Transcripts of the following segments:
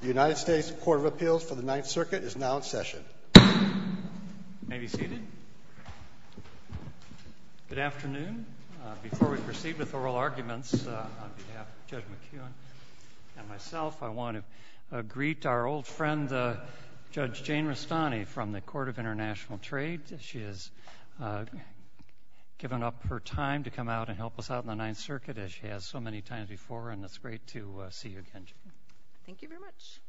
The United States Court of Appeals for the Ninth Circuit is now in session. You may be seated. Good afternoon. Before we proceed with oral arguments, on behalf of Judge McEwen and myself, I want to greet our old friend, Judge Jane Rastani, from the Court of International Trade. She has given up her time to come out and help us out in the Ninth Circuit, as she has so many times before, and it's great to see you again, Jane. Thank you very much.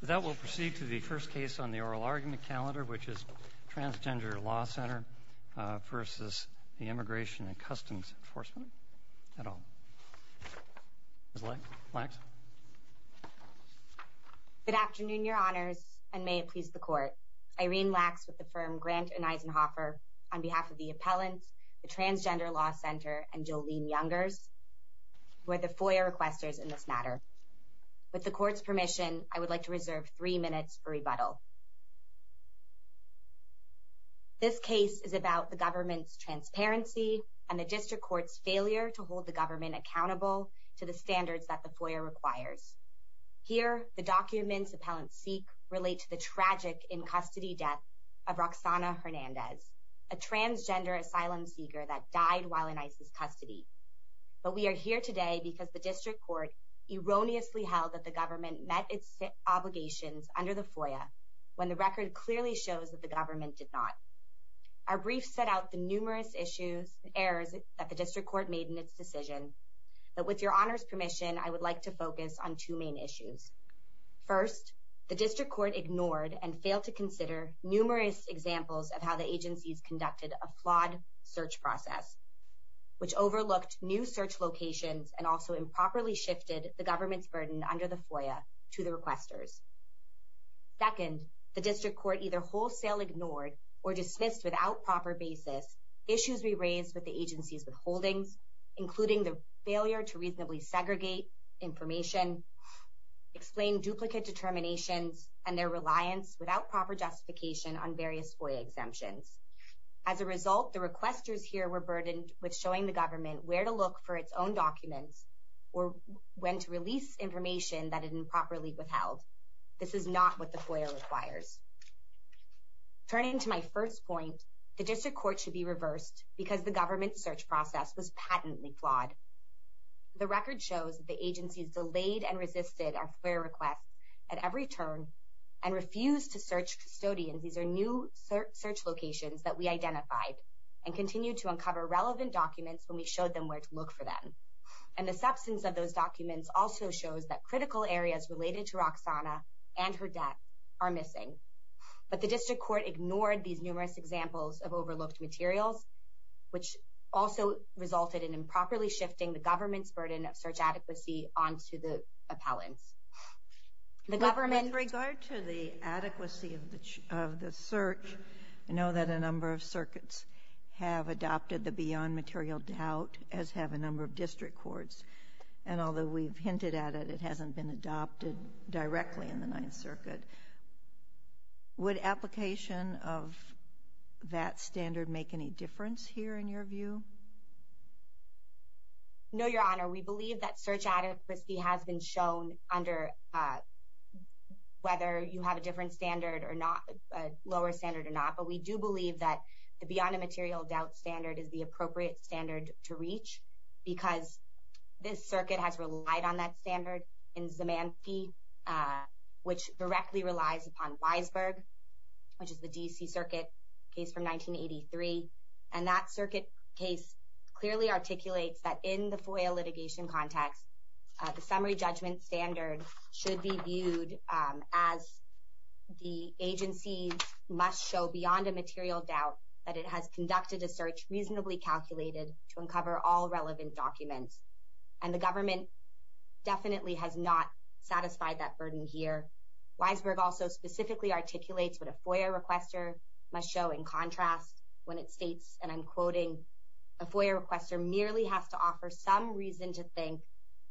With that, we'll proceed to the first case on the oral argument calendar, which is Transgender Law Center v. Immigration and Customs Enforcement, et al. Ms. Lacks? Good afternoon, Your Honors, and may it please the Court. Irene Lacks with the firm Grant & Eisenhoffer, on behalf of the appellants, the Transgender Law Center, and Jolene Youngers, who are the FOIA requesters in this matter. With the Court's permission, I would like to reserve three minutes for rebuttal. This case is about the government's transparency and the district court's failure to hold the government accountable to the standards that the FOIA requires. Here, the documents appellants seek relate to the tragic in-custody death of Roxana Hernandez, a transgender asylum seeker that died while in ISIS custody. But we are here today because the district court erroneously held that the government met its obligations under the FOIA, when the record clearly shows that the government did not. Our brief set out the numerous issues and errors that the district court made in its decision, but with Your Honors' permission, I would like to focus on two main issues. First, the district court ignored and failed to consider numerous examples of how the agencies conducted a flawed search process, which overlooked new search locations and also improperly shifted the government's burden under the FOIA to the requesters. Second, the district court either wholesale ignored or dismissed without proper basis issues we raised with the agency's withholdings, including the failure to reasonably segregate information, explain duplicate determinations, and their reliance without proper justification on various FOIA exemptions. As a result, the requesters here were burdened with showing the government where to look for its own documents or when to release information that it improperly withheld. This is not what the FOIA requires. Turning to my first point, the district court should be reversed because the government's search process was patently flawed. The record shows that the agencies delayed and resisted our FOIA requests at every turn and refused to search custodians, these are new search locations that we identified, and continued to uncover relevant documents when we showed them where to look for them. And the substance of those documents also shows that critical areas related to Roxana and her debt are missing. But the district court ignored these numerous examples of overlooked materials, which also resulted in improperly shifting the government's burden of search adequacy onto the appellants. With regard to the adequacy of the search, I know that a number of circuits have adopted the beyond material doubt, as have a number of district courts. And although we've hinted at it, it hasn't been adopted directly in the Ninth Circuit. Would application of that standard make any difference here in your view? No, Your Honor. We believe that search adequacy has been shown under whether you have a different standard or not, a lower standard or not, but we do believe that the beyond material doubt standard is the appropriate standard to reach because this circuit has relied on that standard in Zemanski, which directly relies upon Weisberg, which is the D.C. Circuit case from 1983. And that circuit case clearly articulates that in the FOIA litigation context, the summary judgment standard should be viewed as the agency must show beyond a material doubt that it has conducted a search reasonably calculated to uncover all relevant documents. And the government definitely has not satisfied that burden here. Weisberg also specifically articulates what a FOIA requester must show in contrast when it states, and I'm quoting, a FOIA requester merely has to offer some reason to think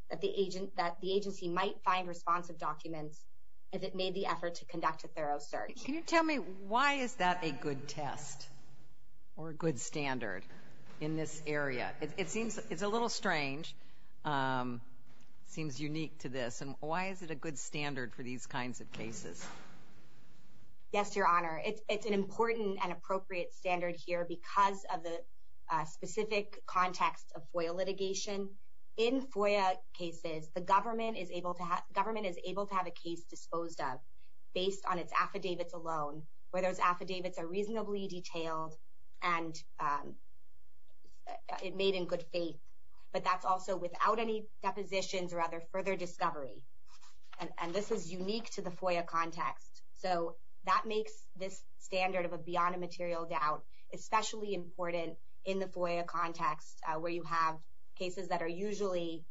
that the agency might find responsive documents if it made the effort to conduct a thorough search. Can you tell me why is that a good test or a good standard in this area? It's a little strange. It seems unique to this. And why is it a good standard for these kinds of cases? Yes, Your Honor. It's an important and appropriate standard here because of the specific context of FOIA litigation. In FOIA cases, the government is able to have a case disposed of based on its affidavits alone, where those affidavits are reasonably detailed and made in good faith, but that's also without any depositions or other further discovery. And this is unique to the FOIA context. So that makes this standard of a beyond a material doubt especially important in the FOIA context, where you have cases that are usually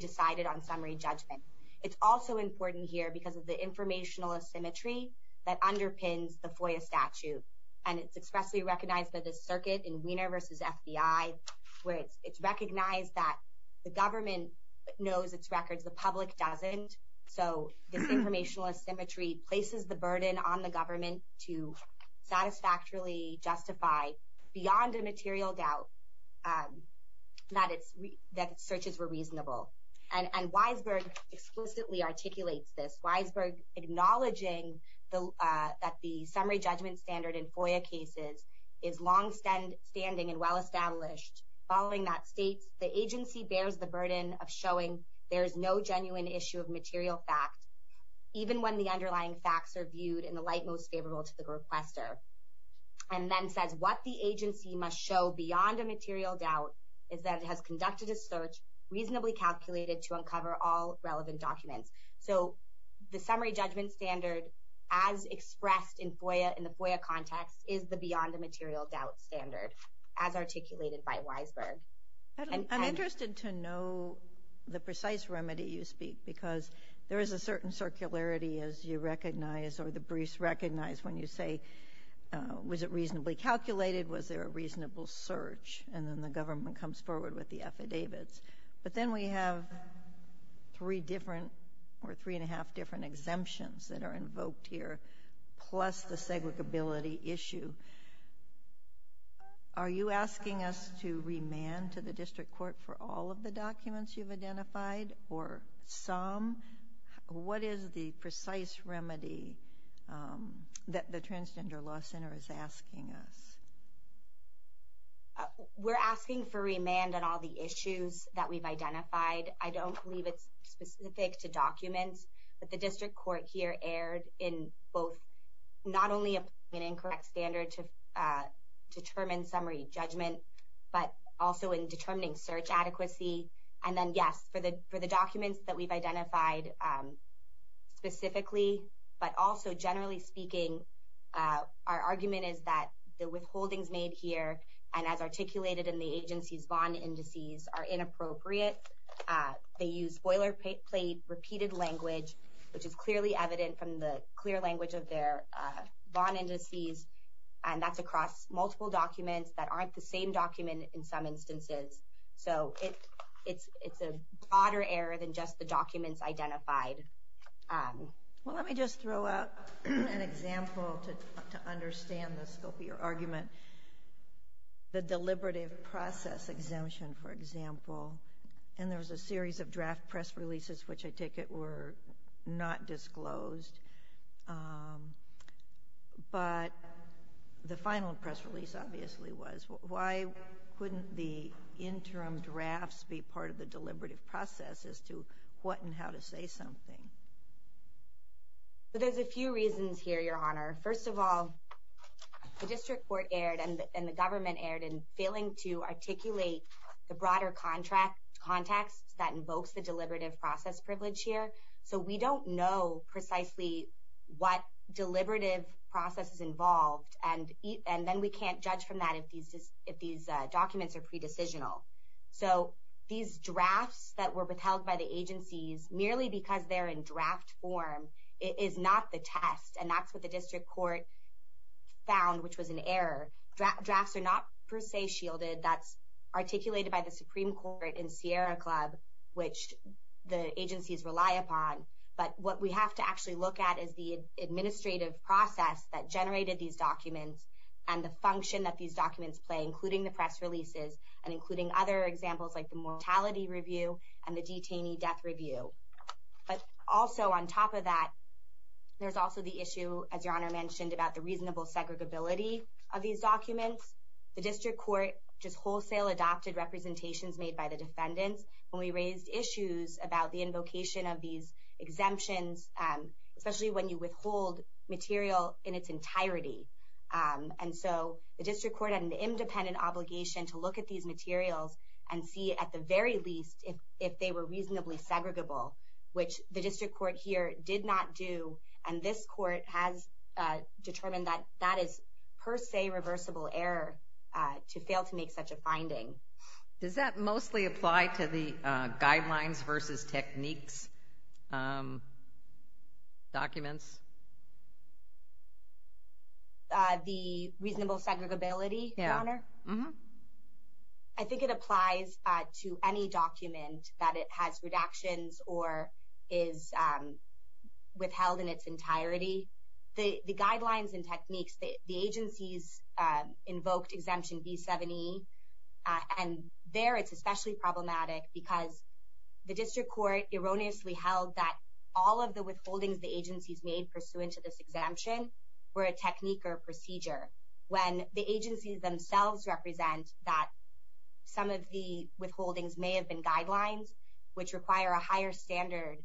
decided on summary judgment. It's also important here because of the informational asymmetry that underpins the FOIA statute, and it's expressly recognized by the circuit in Weiner v. FBI, where it's recognized that the government knows its records, the public doesn't, so this informational asymmetry places the burden on the government to satisfactorily justify beyond a material doubt that its searches were reasonable. And Weisberg explicitly articulates this. Weisberg acknowledging that the summary judgment standard in FOIA cases is longstanding and well-established, following that states the agency bears the burden of showing there is no genuine issue of material fact, even when the underlying facts are viewed in the light most favorable to the requester, and then says what the agency must show beyond a material doubt is that it has conducted a search reasonably calculated to uncover all relevant documents. So the summary judgment standard as expressed in the FOIA context is the beyond a material doubt standard as articulated by Weisberg. I'm interested to know the precise remedy you speak, because there is a certain circularity as you recognize or the briefs recognize when you say was it reasonably calculated, was there a reasonable search, and then the government comes forward with the affidavits. But then we have three different or three and a half different exemptions that are invoked here, plus the segregability issue. Are you asking us to remand to the district court for all of the documents you've identified or some? What is the precise remedy that the Transgender Law Center is asking us? We're asking for remand on all the issues that we've identified. I don't believe it's specific to documents, but the district court here erred in both not only an incorrect standard to determine summary judgment, but also in determining search adequacy. And then, yes, for the documents that we've identified specifically, but also generally speaking, our argument is that the withholdings made here and as articulated in the agency's bond indices are inappropriate. They use boilerplate repeated language, which is clearly evident from the clear language of their bond indices, and that's across multiple documents that aren't the same document in some instances. So it's a broader error than just the documents identified. Well, let me just throw out an example to understand the scope of your argument. The deliberative process exemption, for example, and there was a series of draft press releases, which I take it were not disclosed. But the final press release obviously was. Why couldn't the interim drafts be part of the deliberative process as to what and how to say something? There's a few reasons here, Your Honor. First of all, the district court erred and the government erred in failing to articulate the broader context that invokes the deliberative process privilege here. So we don't know precisely what deliberative process is involved, and then we can't judge from that if these documents are pre-decisional. So these drafts that were withheld by the agencies merely because they're in draft form is not the test, and that's what the district court found, which was an error. Drafts are not per se shielded. That's articulated by the Supreme Court in Sierra Club, which the agencies rely upon. But what we have to actually look at is the administrative process that generated these documents and the function that these documents play, including the press releases and including other examples like the mortality review and the detainee death review. But also on top of that, there's also the issue, as Your Honor mentioned, about the reasonable segregability of these documents. The district court just wholesale adopted representations made by the defendants, and we raised issues about the invocation of these exemptions, especially when you withhold material in its entirety. And so the district court had an independent obligation to look at these materials and see at the very least if they were reasonably segregable, which the district court here did not do, and this court has determined that that is per se reversible error to fail to make such a finding. Does that mostly apply to the guidelines versus techniques documents? The reasonable segregability, Your Honor? Yeah. I don't think it applies to any document that it has redactions or is withheld in its entirety. The guidelines and techniques, the agencies invoked Exemption B-7E, and there it's especially problematic because the district court erroneously held that all of the withholdings the agencies made pursuant to this exemption were a technique or procedure. When the agencies themselves represent that some of the withholdings may have been guidelines, which require a higher standard,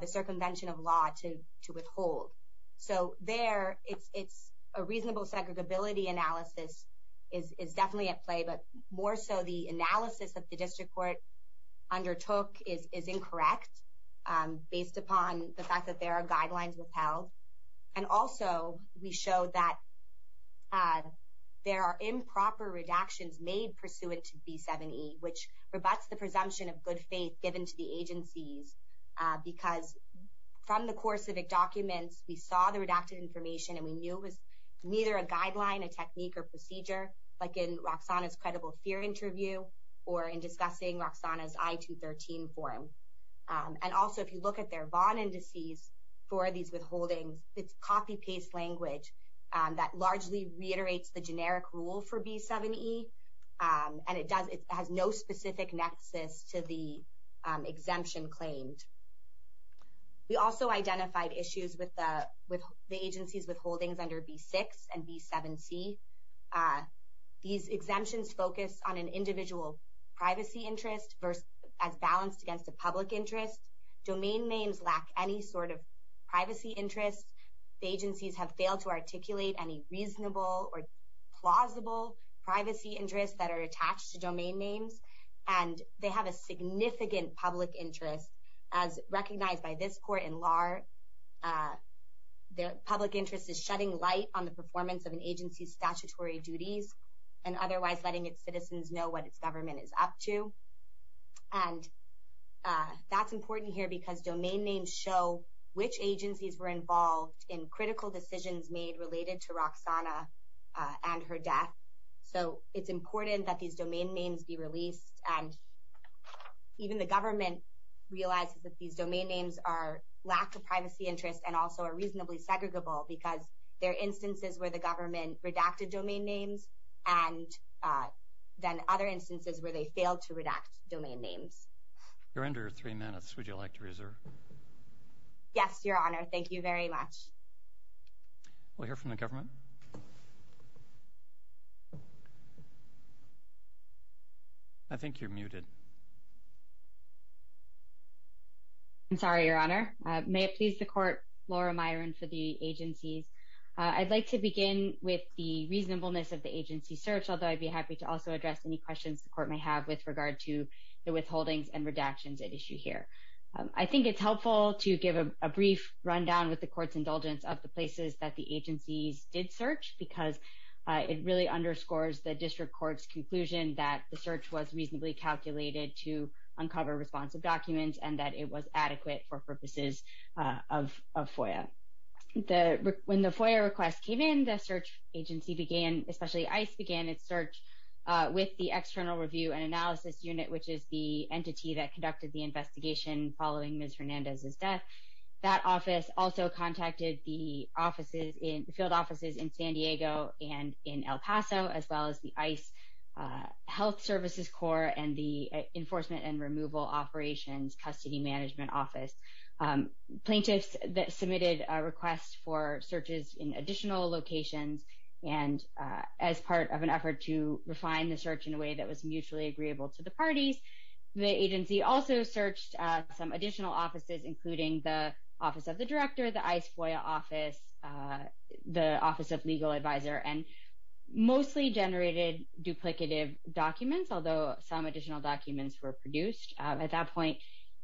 the circumvention of law to withhold. So there it's a reasonable segregability analysis is definitely at play, but more so the analysis that the district court undertook is incorrect based upon the fact that there are guidelines withheld. And also we show that there are improper redactions made pursuant to B-7E, which rebuts the presumption of good faith given to the agencies because from the core civic documents, we saw the redacted information and we knew it was neither a guideline, a technique, or procedure, like in Roxana's credible fear interview or in discussing Roxana's I-213 form. And also if you look at their VON indices for these withholdings, it's copy-paste language that largely reiterates the generic rule for B-7E, and it has no specific nexus to the exemption claimed. We also identified issues with the agencies withholdings under B-6 and B-7C. These exemptions focus on an individual privacy interest as balanced against a public interest. Domain names lack any sort of privacy interest. The agencies have failed to articulate any reasonable or plausible privacy interests that are attached to domain names, and they have a significant public interest as recognized by this court in LAR. The public interest is shutting light on the performance of an agency's statutory duties and otherwise letting its citizens know what its government is up to. And that's important here because domain names show which agencies were involved in critical decisions made related to Roxana and her death. So it's important that these domain names be released, and even the government realizes that these domain names lack a privacy interest and also are reasonably segregable because there are instances where the government redacted domain names and then other instances where they failed to redact domain names. You're under three minutes. Would you like to reserve? Yes, Your Honor. Thank you very much. We'll hear from the government. I think you're muted. I'm sorry, Your Honor. May it please the court, Laura Myron for the agencies. I'd like to begin with the reasonableness of the agency search, although I'd be happy to also address any questions the court may have with regard to the withholdings and redactions at issue here. I think it's helpful to give a brief rundown with the court's indulgence of the places that the agencies did search because it really underscores the district court's conclusion that the search was reasonably calculated to uncover responsive documents and that it was adequate for purposes of FOIA. When the FOIA request came in, the search agency began, especially ICE, began its search with the External Review and Analysis Unit, which is the entity that conducted the investigation following Ms. Hernandez's death. That office also contacted the field offices in San Diego and in El Paso, as well as the ICE Health Services Corps and the Enforcement and Removal Operations Custody Management Office. Plaintiffs submitted requests for searches in additional locations, and as part of an effort to refine the search in a way that was mutually agreeable to the parties, the agency also searched some additional offices, including the Office of the Director, the ICE FOIA office, the Office of Legal Advisor, and mostly generated duplicative documents, although some additional documents were produced. At that point,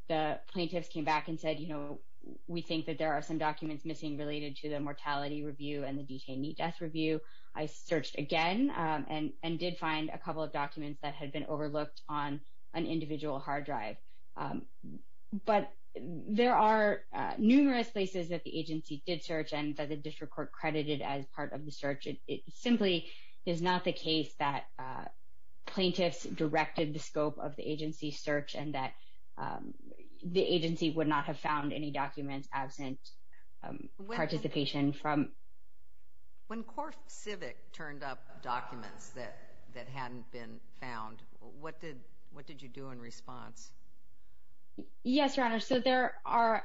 the plaintiffs came back and said, you know, we think that there are some documents missing related to the mortality review and the detainee death review. I searched again and did find a couple of documents that had been overlooked on an individual hard drive. But there are numerous places that the agency did search and that the district court credited as part of the search. It simply is not the case that plaintiffs directed the scope of the agency's search and that the agency would not have found any documents absent participation from… When CoreCivic turned up documents that hadn't been found, what did you do in response? Yes, Your Honor, so there are,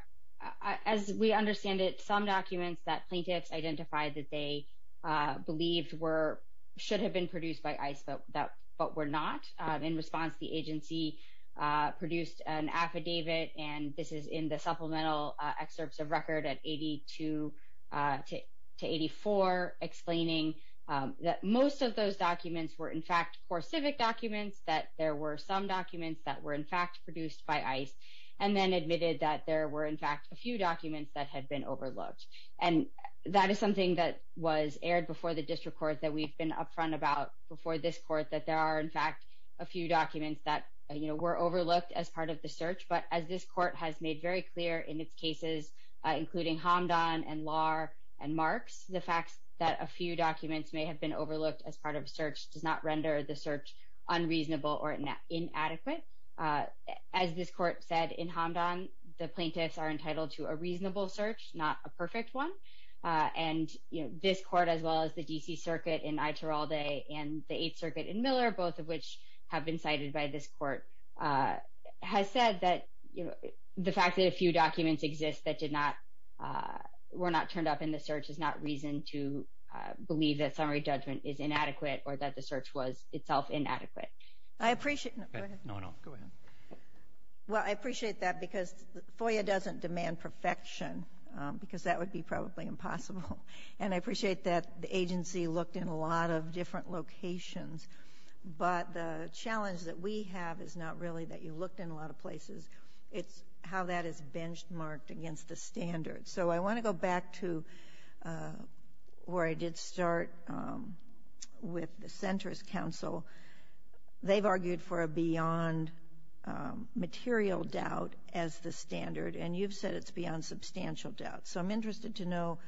as we understand it, some documents that plaintiffs identified that they believed should have been produced by ICE but were not. In response, the agency produced an affidavit, and this is in the supplemental excerpts of record at 82 to 84, explaining that most of those documents were, in fact, CoreCivic documents, that there were some documents that were, in fact, produced by ICE, and then admitted that there were, in fact, a few documents that had been overlooked. And that is something that was aired before the district court, that we've been upfront about before this court, that there are, in fact, a few documents that, you know, were overlooked as part of the search. But as this court has made very clear in its cases, including Hamdan and Lahr and Marks, the fact that a few documents may have been overlooked as part of a search does not render the search unreasonable or inadequate. As this court said in Hamdan, the plaintiffs are entitled to a reasonable search, not a perfect one. And this court, as well as the D.C. Circuit in Aitoralde and the Eighth Circuit in Miller, both of which have been cited by this court, has said that the fact that a few documents exist that did not – were not turned up in the search is not reason to believe that summary judgment is inadequate or that the search was itself inadequate. I appreciate – go ahead. No, no, go ahead. Well, I appreciate that because FOIA doesn't demand perfection because that would be probably impossible. And I appreciate that the agency looked in a lot of different locations. But the challenge that we have is not really that you looked in a lot of places. It's how that is benchmarked against the standards. So I want to go back to where I did start with the Center's counsel. They've argued for a beyond material doubt as the standard, and you've said it's beyond substantial doubt. So I'm interested to know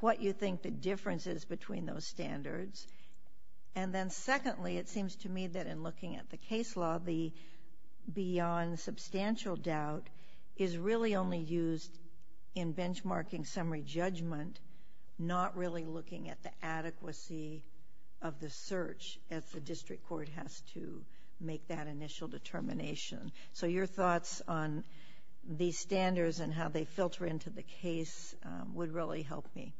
what you think the difference is between those standards. And then secondly, it seems to me that in looking at the case law, the beyond substantial doubt is really only used in benchmarking summary judgment, not really looking at the adequacy of the search as the district court has to make that initial determination. So your thoughts on these standards and how they filter into the case would really help me.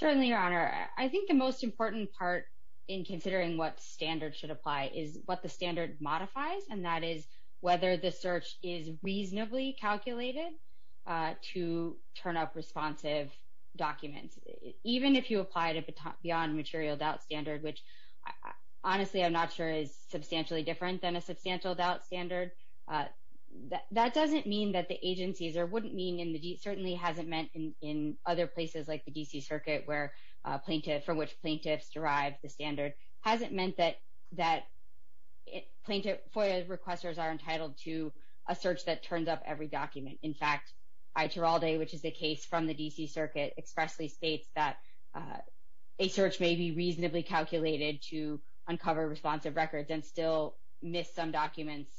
Certainly, Your Honor. I think the most important part in considering what standards should apply is what the standard modifies, and that is whether the search is reasonably calculated to turn up responsive documents. Even if you applied a beyond material doubt standard, which honestly I'm not sure is substantially different than a substantial doubt standard, that doesn't mean that the agencies or wouldn't mean, and certainly hasn't meant in other places like the D.C. Circuit from which plaintiffs derive the standard, hasn't meant that FOIA requesters are entitled to a search that turns up every document. In fact, I. Tiraldi, which is a case from the D.C. Circuit, expressly states that a search may be reasonably calculated to uncover responsive records and still miss some documents,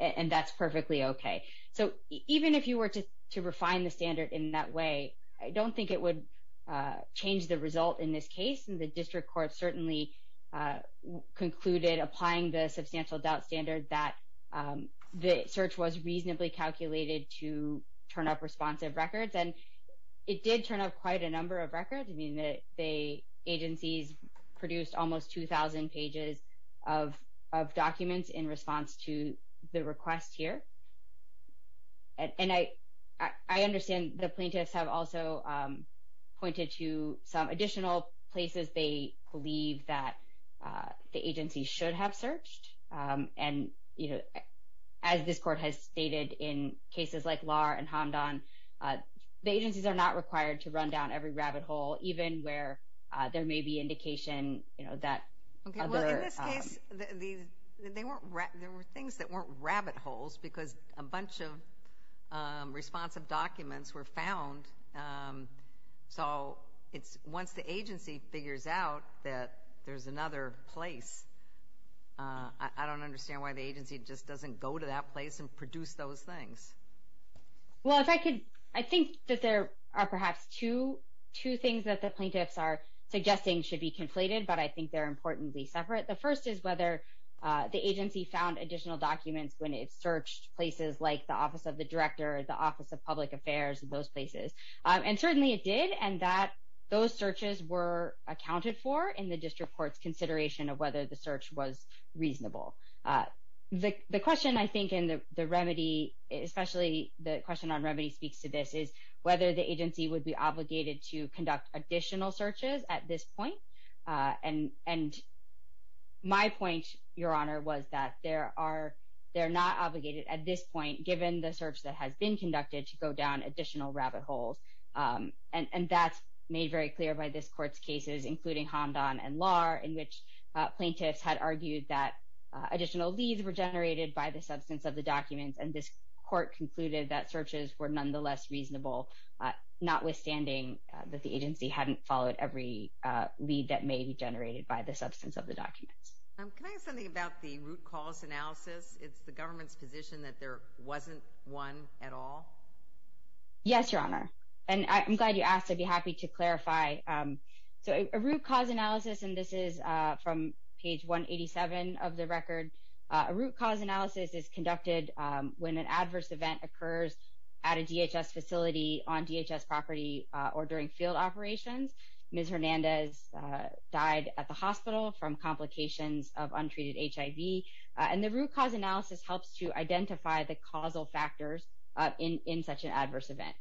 and that's perfectly okay. So even if you were to refine the standard in that way, I don't think it would change the result in this case, and the district court certainly concluded applying the substantial doubt standard that the search was reasonably calculated to turn up responsive records, and it did turn up quite a number of records. I mean, the agencies produced almost 2,000 pages of documents in response to the request here, and I understand the plaintiffs have also pointed to some additional places they believe that the agency should have searched, and as this court has stated in cases like Lahr and Hamdan, the agencies are not required to run down every rabbit hole, even where there may be indication that other... Okay, well, in this case, there were things that weren't rabbit holes because a bunch of responsive documents were found, so once the agency figures out that there's another place, I don't understand why the agency just doesn't go to that place and produce those things. Well, if I could, I think that there are perhaps two things that the plaintiffs are suggesting should be conflated, but I think they're importantly separate. The first is whether the agency found additional documents when it searched places like the Office of the Director, the Office of Public Affairs, those places, and certainly it did, and those searches were accounted for in the district court's consideration of whether the search was reasonable. The question, I think, in the remedy, especially the question on remedy speaks to this, is whether the agency would be obligated to conduct additional searches at this point, and my point, Your Honor, was that they're not obligated at this point, given the search that has been conducted, to go down additional rabbit holes, and that's made very clear by this court's cases, including Hamdan and Lahr, in which plaintiffs had argued that additional leads were generated by the substance of the documents, and this court concluded that searches were nonetheless reasonable, notwithstanding that the agency hadn't followed every lead that may be generated by the substance of the documents. Can I ask something about the root cause analysis? It's the government's position that there wasn't one at all? Yes, Your Honor, and I'm glad you asked. I'd be happy to clarify. So a root cause analysis, and this is from page 187 of the record, a root cause analysis is conducted when an adverse event occurs at a DHS facility, on DHS property, or during field operations. Ms. Hernandez died at the hospital from complications of untreated HIV, and the root cause analysis helps to identify the causal factors in such an adverse event.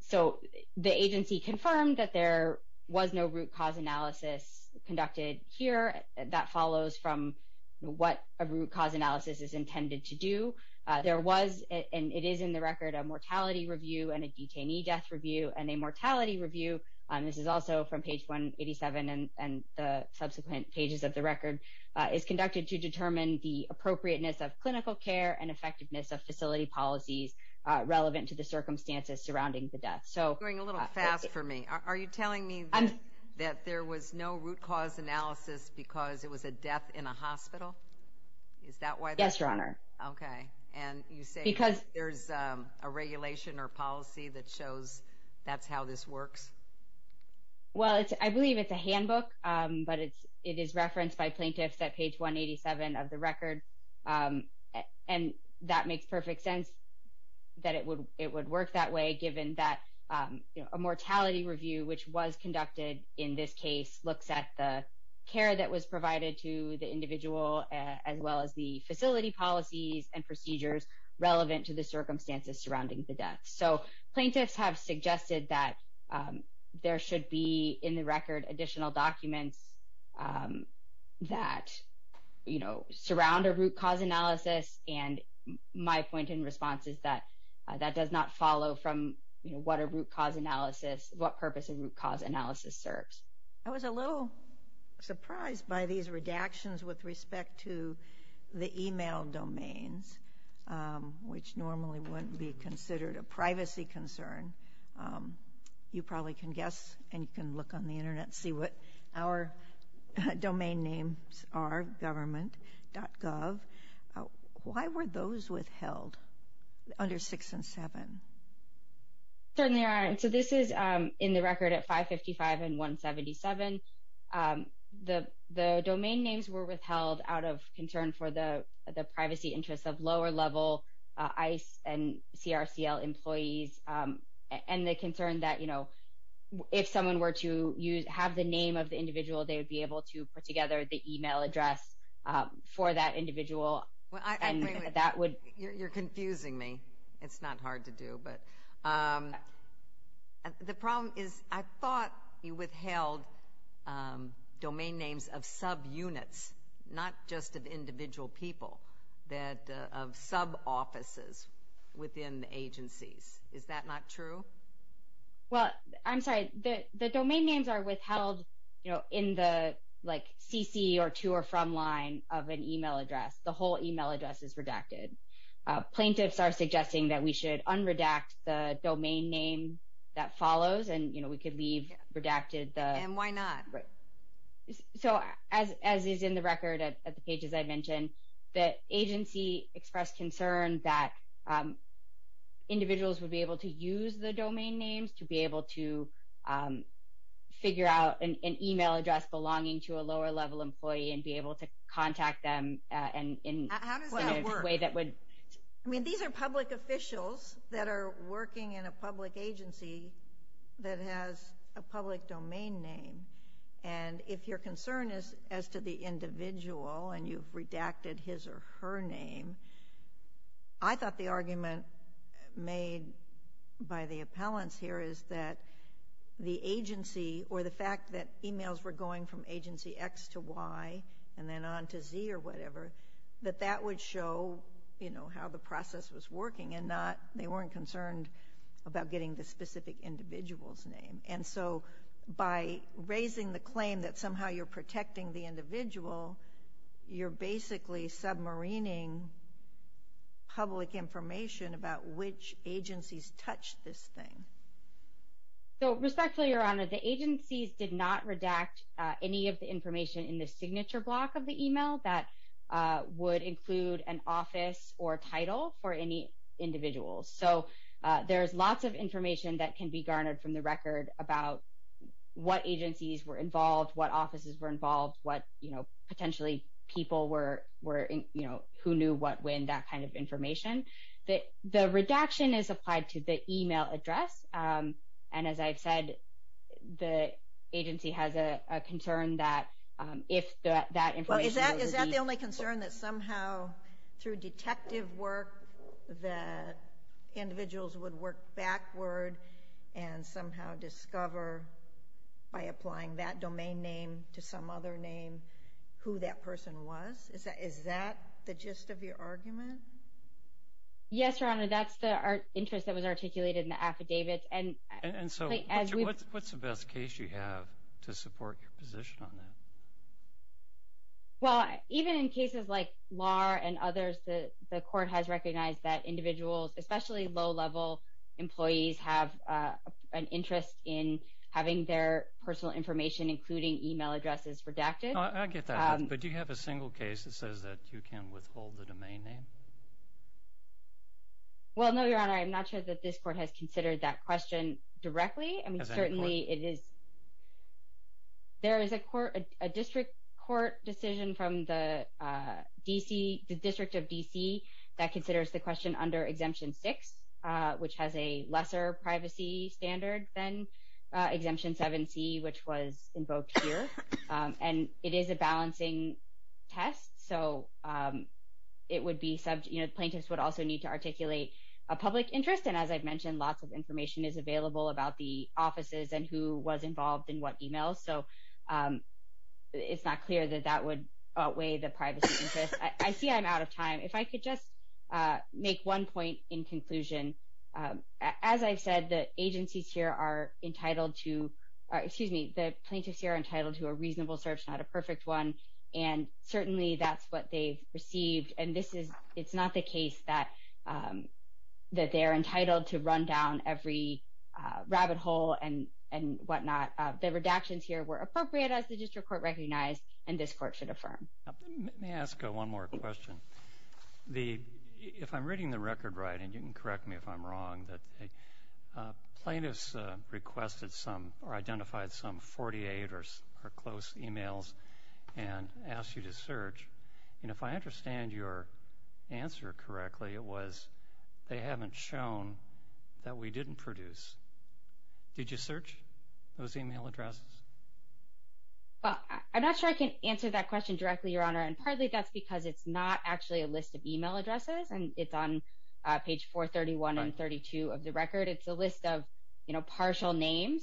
So the agency confirmed that there was no root cause analysis conducted here. That follows from what a root cause analysis is intended to do. There was, and it is in the record, a mortality review and a detainee death review, and a mortality review, this is also from page 187 and the subsequent pages of the record, is conducted to determine the appropriateness of clinical care and effectiveness of facility policies relevant to the circumstances surrounding the death. You're going a little fast for me. Are you telling me that there was no root cause analysis because it was a death in a hospital? Yes, Your Honor. Okay. And you say there's a regulation or policy that shows that's how this works? Well, I believe it's a handbook, but it is referenced by plaintiffs at page 187 of the record, and that makes perfect sense that it would work that way given that a mortality review, which was conducted in this case, looks at the care that was provided to the individual as well as the facility policies and procedures relevant to the circumstances surrounding the death. So plaintiffs have suggested that there should be in the record additional documents that surround a root cause analysis, and my point in response is that that does not follow from what a root cause analysis, what purpose a root cause analysis serves. I was a little surprised by these redactions with respect to the email domains, which normally wouldn't be considered a privacy concern. You probably can guess, and you can look on the Internet and see what our domain names are, government.gov. Why were those withheld under 6 and 7? Certainly aren't. So this is in the record at 555 and 177. The domain names were withheld out of concern for the privacy interests of lower-level ICE and CRCL employees and the concern that, you know, if someone were to have the name of the individual, they would be able to put together the email address for that individual. You're confusing me. It's not hard to do. The problem is I thought you withheld domain names of subunits, not just of individual people, of sub-offices within the agencies. Is that not true? Well, I'm sorry. The domain names are withheld in the CC or to or from line of an email address. The whole email address is redacted. Plaintiffs are suggesting that we should unredact the domain name that follows, and, you know, we could leave redacted the... And why not? So as is in the record at the pages I mentioned, the agency expressed concern that individuals would be able to use the domain names to be able to figure out an email address belonging to a lower-level employee and be able to contact them in a way that would... How does that work? I mean, these are public officials that are working in a public agency that has a public domain name. And if your concern is as to the individual and you've redacted his or her name, I thought the argument made by the appellants here is that the agency or the fact that emails were going from agency X to Y and then on to Z or whatever, that that would show, you know, how the process was working and they weren't concerned about getting the specific individual's name. And so by raising the claim that somehow you're protecting the individual, you're basically submarining public information about which agencies touch this thing. So respectfully, Your Honor, the agencies did not redact any of the information in the signature block of the email that would include an office or title for any individuals. So there's lots of information that can be garnered from the record about what agencies were involved, what offices were involved, what, you know, potentially people were, you know, who knew what when, that kind of information. The redaction is applied to the email address. And as I've said, the agency has a concern that if that information were to be— Well, is that the only concern, that somehow through detective work that individuals would work backward and somehow discover, by applying that domain name to some other name, who that person was? Is that the gist of your argument? Yes, Your Honor, that's the interest that was articulated in the affidavits. And so what's the best case you have to support your position on that? Well, even in cases like Lahr and others, the court has recognized that individuals, especially low-level employees, have an interest in having their personal information, including email addresses, redacted. I get that. But do you have a single case that says that you can withhold the domain name? Well, no, Your Honor. I'm not sure that this court has considered that question directly. I mean, certainly it is— There is a district court decision from the District of D.C. that considers the question under Exemption 6, which has a lesser privacy standard than Exemption 7c, which was invoked here. And it is a balancing test. So it would be—plaintiffs would also need to articulate a public interest. And as I've mentioned, lots of information is available about the offices and who was involved in what email. So it's not clear that that would outweigh the privacy interest. I see I'm out of time. If I could just make one point in conclusion. As I've said, the agencies here are entitled to— it's a reasonable search, not a perfect one. And certainly that's what they've received. And it's not the case that they're entitled to run down every rabbit hole and whatnot. The redactions here were appropriate, as the district court recognized, and this court should affirm. Let me ask one more question. If I'm reading the record right, and you can correct me if I'm wrong, plaintiffs requested some or identified some 48 or close emails and asked you to search. And if I understand your answer correctly, it was, they haven't shown that we didn't produce. Did you search those email addresses? Well, I'm not sure I can answer that question directly, Your Honor. And partly that's because it's not actually a list of email addresses, and it's on page 431 and 432 of the record. It's a list of partial names.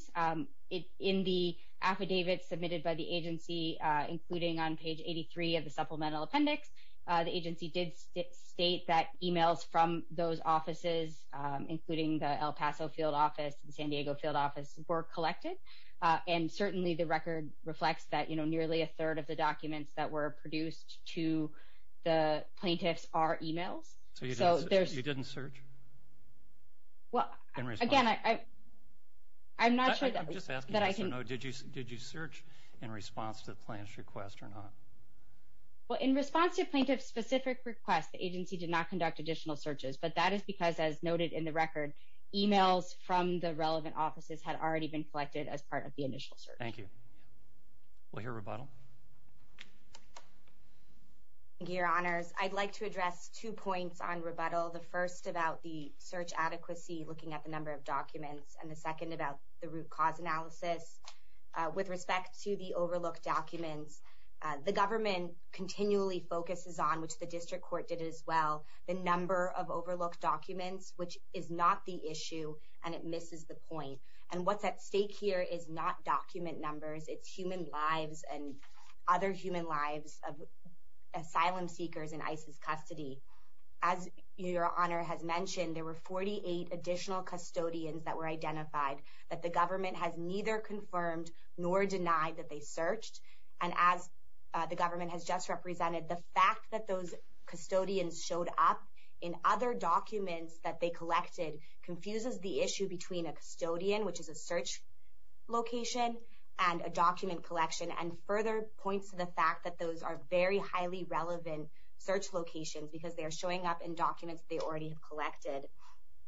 In the affidavit submitted by the agency, including on page 83 of the supplemental appendix, the agency did state that emails from those offices, including the El Paso field office and the San Diego field office, were collected. And certainly the record reflects that nearly a third of the documents that were produced to the plaintiffs are emails. So you didn't search? Well, again, I'm not sure that I can... I'm just asking yes or no. Did you search in response to the plaintiff's request or not? Well, in response to the plaintiff's specific request, the agency did not conduct additional searches. But that is because, as noted in the record, emails from the relevant offices had already been collected as part of the initial search. Thank you. We'll hear rebuttal. Thank you, Your Honors. I'd like to address two points on rebuttal, the first about the search adequacy, looking at the number of documents, and the second about the root cause analysis. With respect to the overlooked documents, the government continually focuses on, which the district court did as well, the number of overlooked documents, which is not the issue, and it misses the point. And what's at stake here is not document numbers. It's human lives and other human lives of asylum seekers in ISIS custody. As Your Honor has mentioned, there were 48 additional custodians that were identified that the government has neither confirmed nor denied that they searched. And as the government has just represented, the fact that those custodians showed up in other documents that they collected confuses the issue between a custodian, which is a search location, and a document collection, and further points to the fact that those are very highly relevant search locations because they are showing up in documents they already have collected.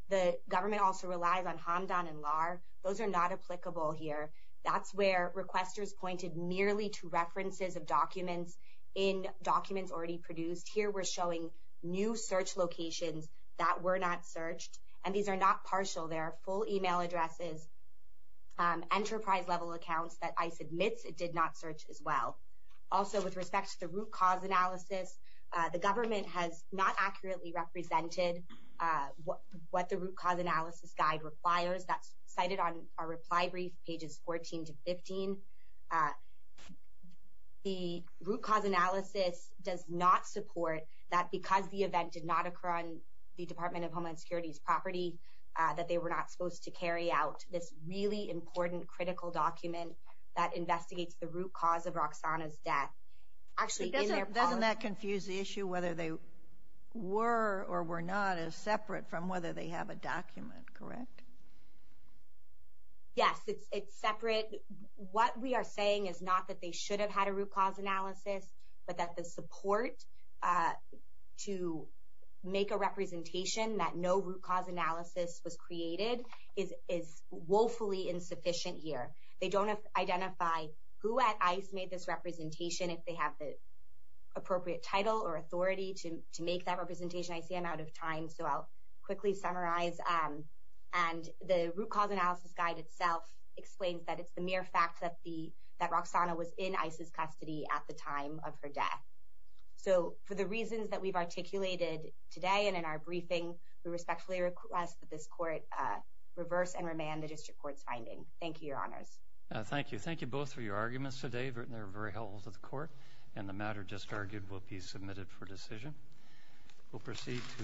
The government also relies on Hamdan and Lahr. Those are not applicable here. That's where requesters pointed merely to references of documents in documents already produced. Here we're showing new search locations that were not searched, and these are not partial. They are full email addresses, enterprise-level accounts that ISIS admits it did not search as well. Also, with respect to the root cause analysis, the government has not accurately represented what the root cause analysis guide requires. That's cited on our reply brief, pages 14 to 15. The root cause analysis does not support that because the event did not occur on the Department of Homeland Security's property, that they were not supposed to carry out this really important, critical document that investigates the root cause of Roxana's death. Actually, doesn't that confuse the issue whether they were or were not as separate from whether they have a document, correct? Yes, it's separate. What we are saying is not that they should have had a root cause analysis, but that the support to make a representation that no root cause analysis was created is woefully insufficient here. They don't identify who at ICE made this representation, if they have the appropriate title or authority to make that representation. I see I'm out of time, so I'll quickly summarize. The root cause analysis guide itself explains that it's the mere fact that For the reasons that we've articulated today and in our briefing, we respectfully request that this court reverse and remand the district court's finding. Thank you, Your Honors. Thank you. Thank you both for your arguments today. They were very helpful to the court, and the matter just argued will be submitted for decision. We'll proceed to questions.